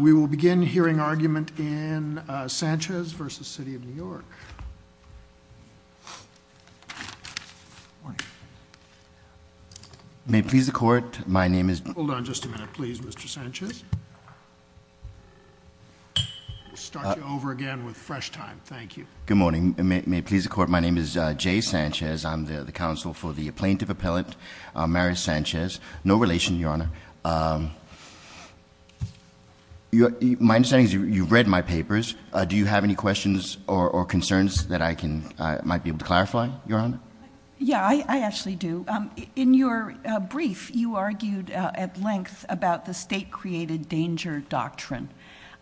We will begin hearing argument in Sanchez v. City of New York. May it please the court, my name is- Hold on just a minute, please, Mr. Sanchez. Start you over again with fresh time. Thank you. Good morning. May it please the court, my name is Jay Sanchez. I'm the counsel for the plaintiff appellant, Mary Sanchez. No relation, Your Honor. My understanding is you've read my papers. Do you have any questions or concerns that I might be able to clarify, Your Honor? Yeah, I actually do. In your brief, you argued at length about the state-created danger doctrine.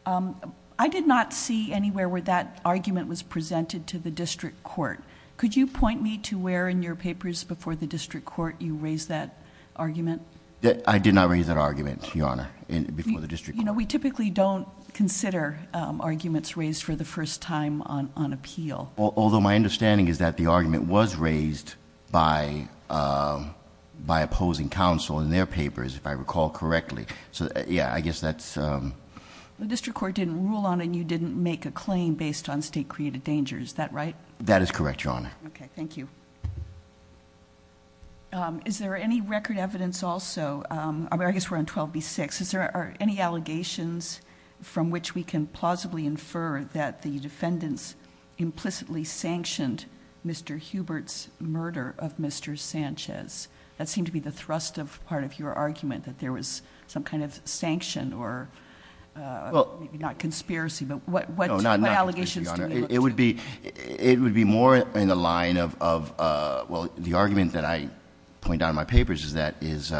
I did not see anywhere where that argument was presented to the district court. Could you point me to where in your papers before the district court you raised that argument? I did not raise that argument, Your Honor, before the district court. You know, we typically don't consider arguments raised for the first time on appeal. Although my understanding is that the argument was raised by opposing counsel in their papers, if I recall correctly. So, yeah, I guess that's- The district court didn't rule on it and you didn't make a claim based on state-created danger, is that right? That is correct, Your Honor. Okay, thank you. Is there any record evidence also, I mean, I guess we're on 12B-6. Are there any allegations from which we can plausibly infer that the defendants implicitly sanctioned Mr. Hubert's murder of Mr. Sanchez? That seemed to be the thrust of part of your argument, that there was some kind of sanction or maybe not conspiracy, but what- It would be more in the line of, well, the argument that I point out in my papers is that, is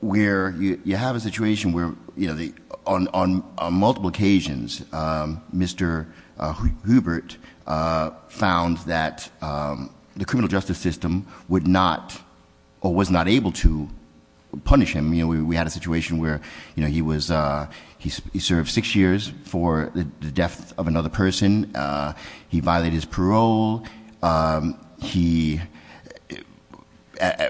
where you have a situation where on multiple occasions, Mr. Hubert found that the criminal justice system would not or was not able to punish him. We had a situation where he served six years for the death of another person. He violated his parole. There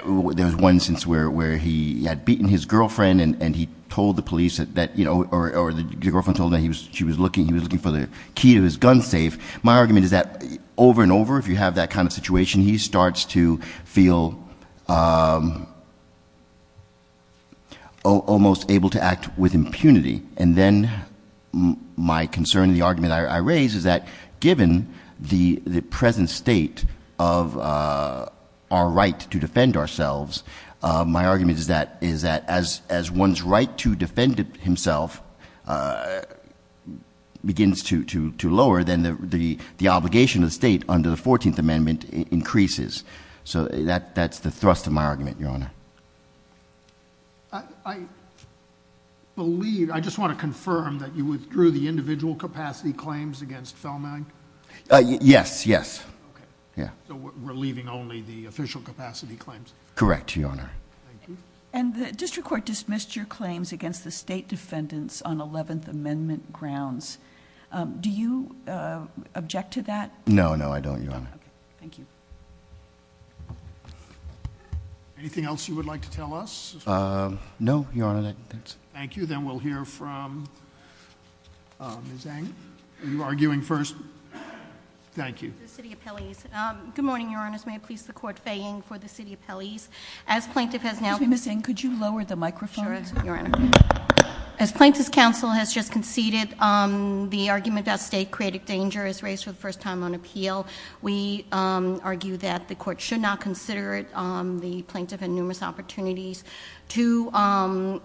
was one since where he had beaten his girlfriend and he told the police that, or the girlfriend told him that she was looking for the key to his gun safe. My argument is that over and over, if you have that kind of situation, he starts to feel almost able to act with impunity. And then, my concern, the argument I raise is that given the present state of our right to defend ourselves. My argument is that as one's right to defend himself begins to lower, then the obligation of the state under the 14th Amendment increases. So that's the thrust of my argument, Your Honor. I believe, I just want to confirm that you withdrew the individual capacity claims against Feldman? Yes, yes. Okay. Yeah. So we're leaving only the official capacity claims? Correct, Your Honor. Thank you. And the district court dismissed your claims against the state defendants on 11th Amendment grounds. Do you object to that? No, no, I don't, Your Honor. Okay, thank you. Anything else you would like to tell us? No, Your Honor, that's it. Thank you, then we'll hear from Ms. Eng. Are you arguing first? Thank you. Good morning, Your Honors. May it please the court, Faye Eng for the city appellees. As plaintiff has now- Excuse me, Ms. Eng, could you lower the microphone? Sure, Your Honor. As plaintiff's counsel has just conceded, the argument that state created danger is raised for the first time on appeal. We argue that the court should not consider it, the plaintiff had numerous opportunities to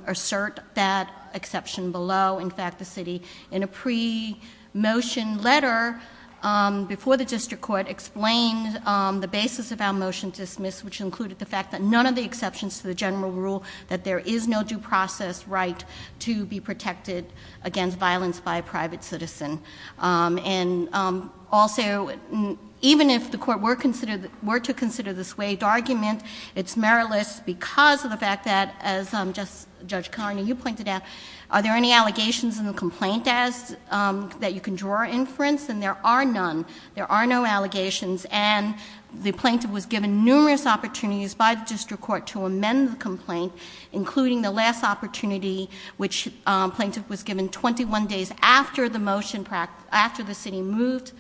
assert that exception below. In fact, the city, in a pre-motion letter before the district court, explained the basis of our motion dismissed, which included the fact that none of the exceptions to the general rule, that there is no due process right to be protected against violence by a private citizen. And also, even if the court were to consider the swayed argument, it's meritless because of the fact that, as Judge Carney, you pointed out, are there any allegations in the complaint that you can draw inference? And there are none. There are no allegations. And the plaintiff was given numerous opportunities by the district court to amend the complaint, including the last opportunity, which plaintiff was given 21 days after the motion, after the city moved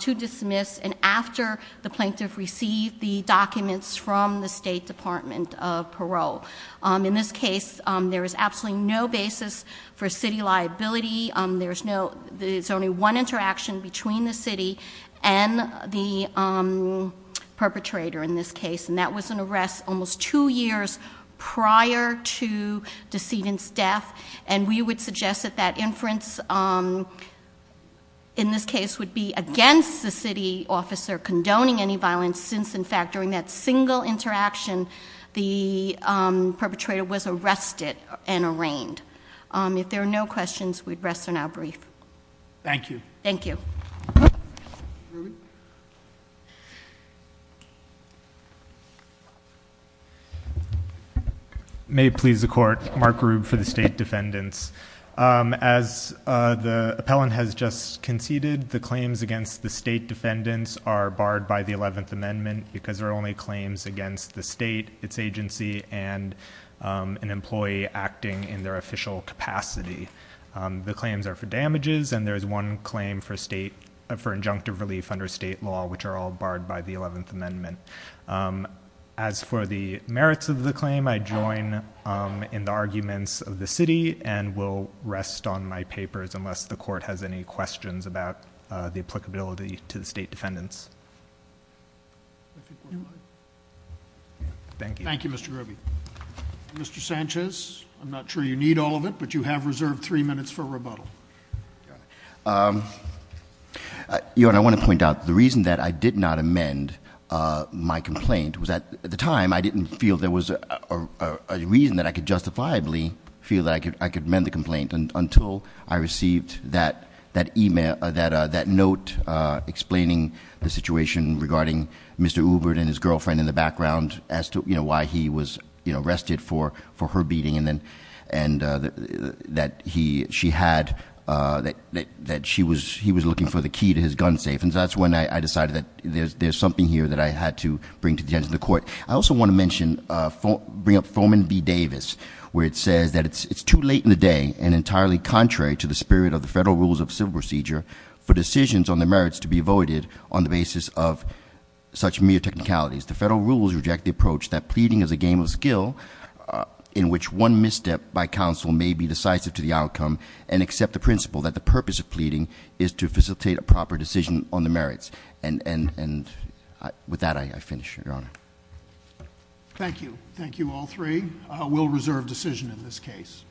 to dismiss, and after the plaintiff received the documents from the State Department of Parole. In this case, there is absolutely no basis for city liability. There's only one interaction between the city and the perpetrator in this case, and that was an arrest almost two years prior to the decedent's death. And we would suggest that that inference, in this case, would be against the city officer condoning any violence since, in fact, during that single interaction, the perpetrator was arrested and arraigned. If there are no questions, we'd rest on our brief. Thank you. Thank you. May it please the court. Mark Rube for the State Defendants. As the appellant has just conceded, the claims against the State Defendants are barred by the 11th Amendment because there are only claims against the state, its agency, and an employee acting in their official capacity. The claims are for damages, and there is one claim for injunctive relief under state law, which are all barred by the 11th Amendment. As for the merits of the claim, I join in the arguments of the city, and will rest on my papers unless the court has any questions about the applicability to the State Defendants. Thank you. Thank you, Mr. Rube. Mr. Sanchez, I'm not sure you need all of it, but you have reserved three minutes for rebuttal. Your Honor, I want to point out the reason that I did not amend my complaint was that, at the time, I didn't feel there was a reason that I could justifiably feel that I could amend the complaint, until I received that note explaining the situation regarding Mr. Ubert and his girlfriend in the background as to why he was arrested for her beating and that she had, that he was looking for the key to his gun safe. And that's when I decided that there's something here that I had to bring to the edge of the court. I also want to mention, bring up Foreman B Davis, where it says that it's too late in the day and entirely contrary to the spirit of the Federal Rules of Civil Procedure for decisions on the merits to be avoided on the basis of such mere technicalities. The Federal Rules reject the approach that pleading is a game of skill in which one misstep by counsel may be decisive to the outcome and accept the principle that the purpose of pleading is to facilitate a proper decision on the merits. And with that, I finish, Your Honor. Thank you. Thank you, all three. We'll reserve decision in this case.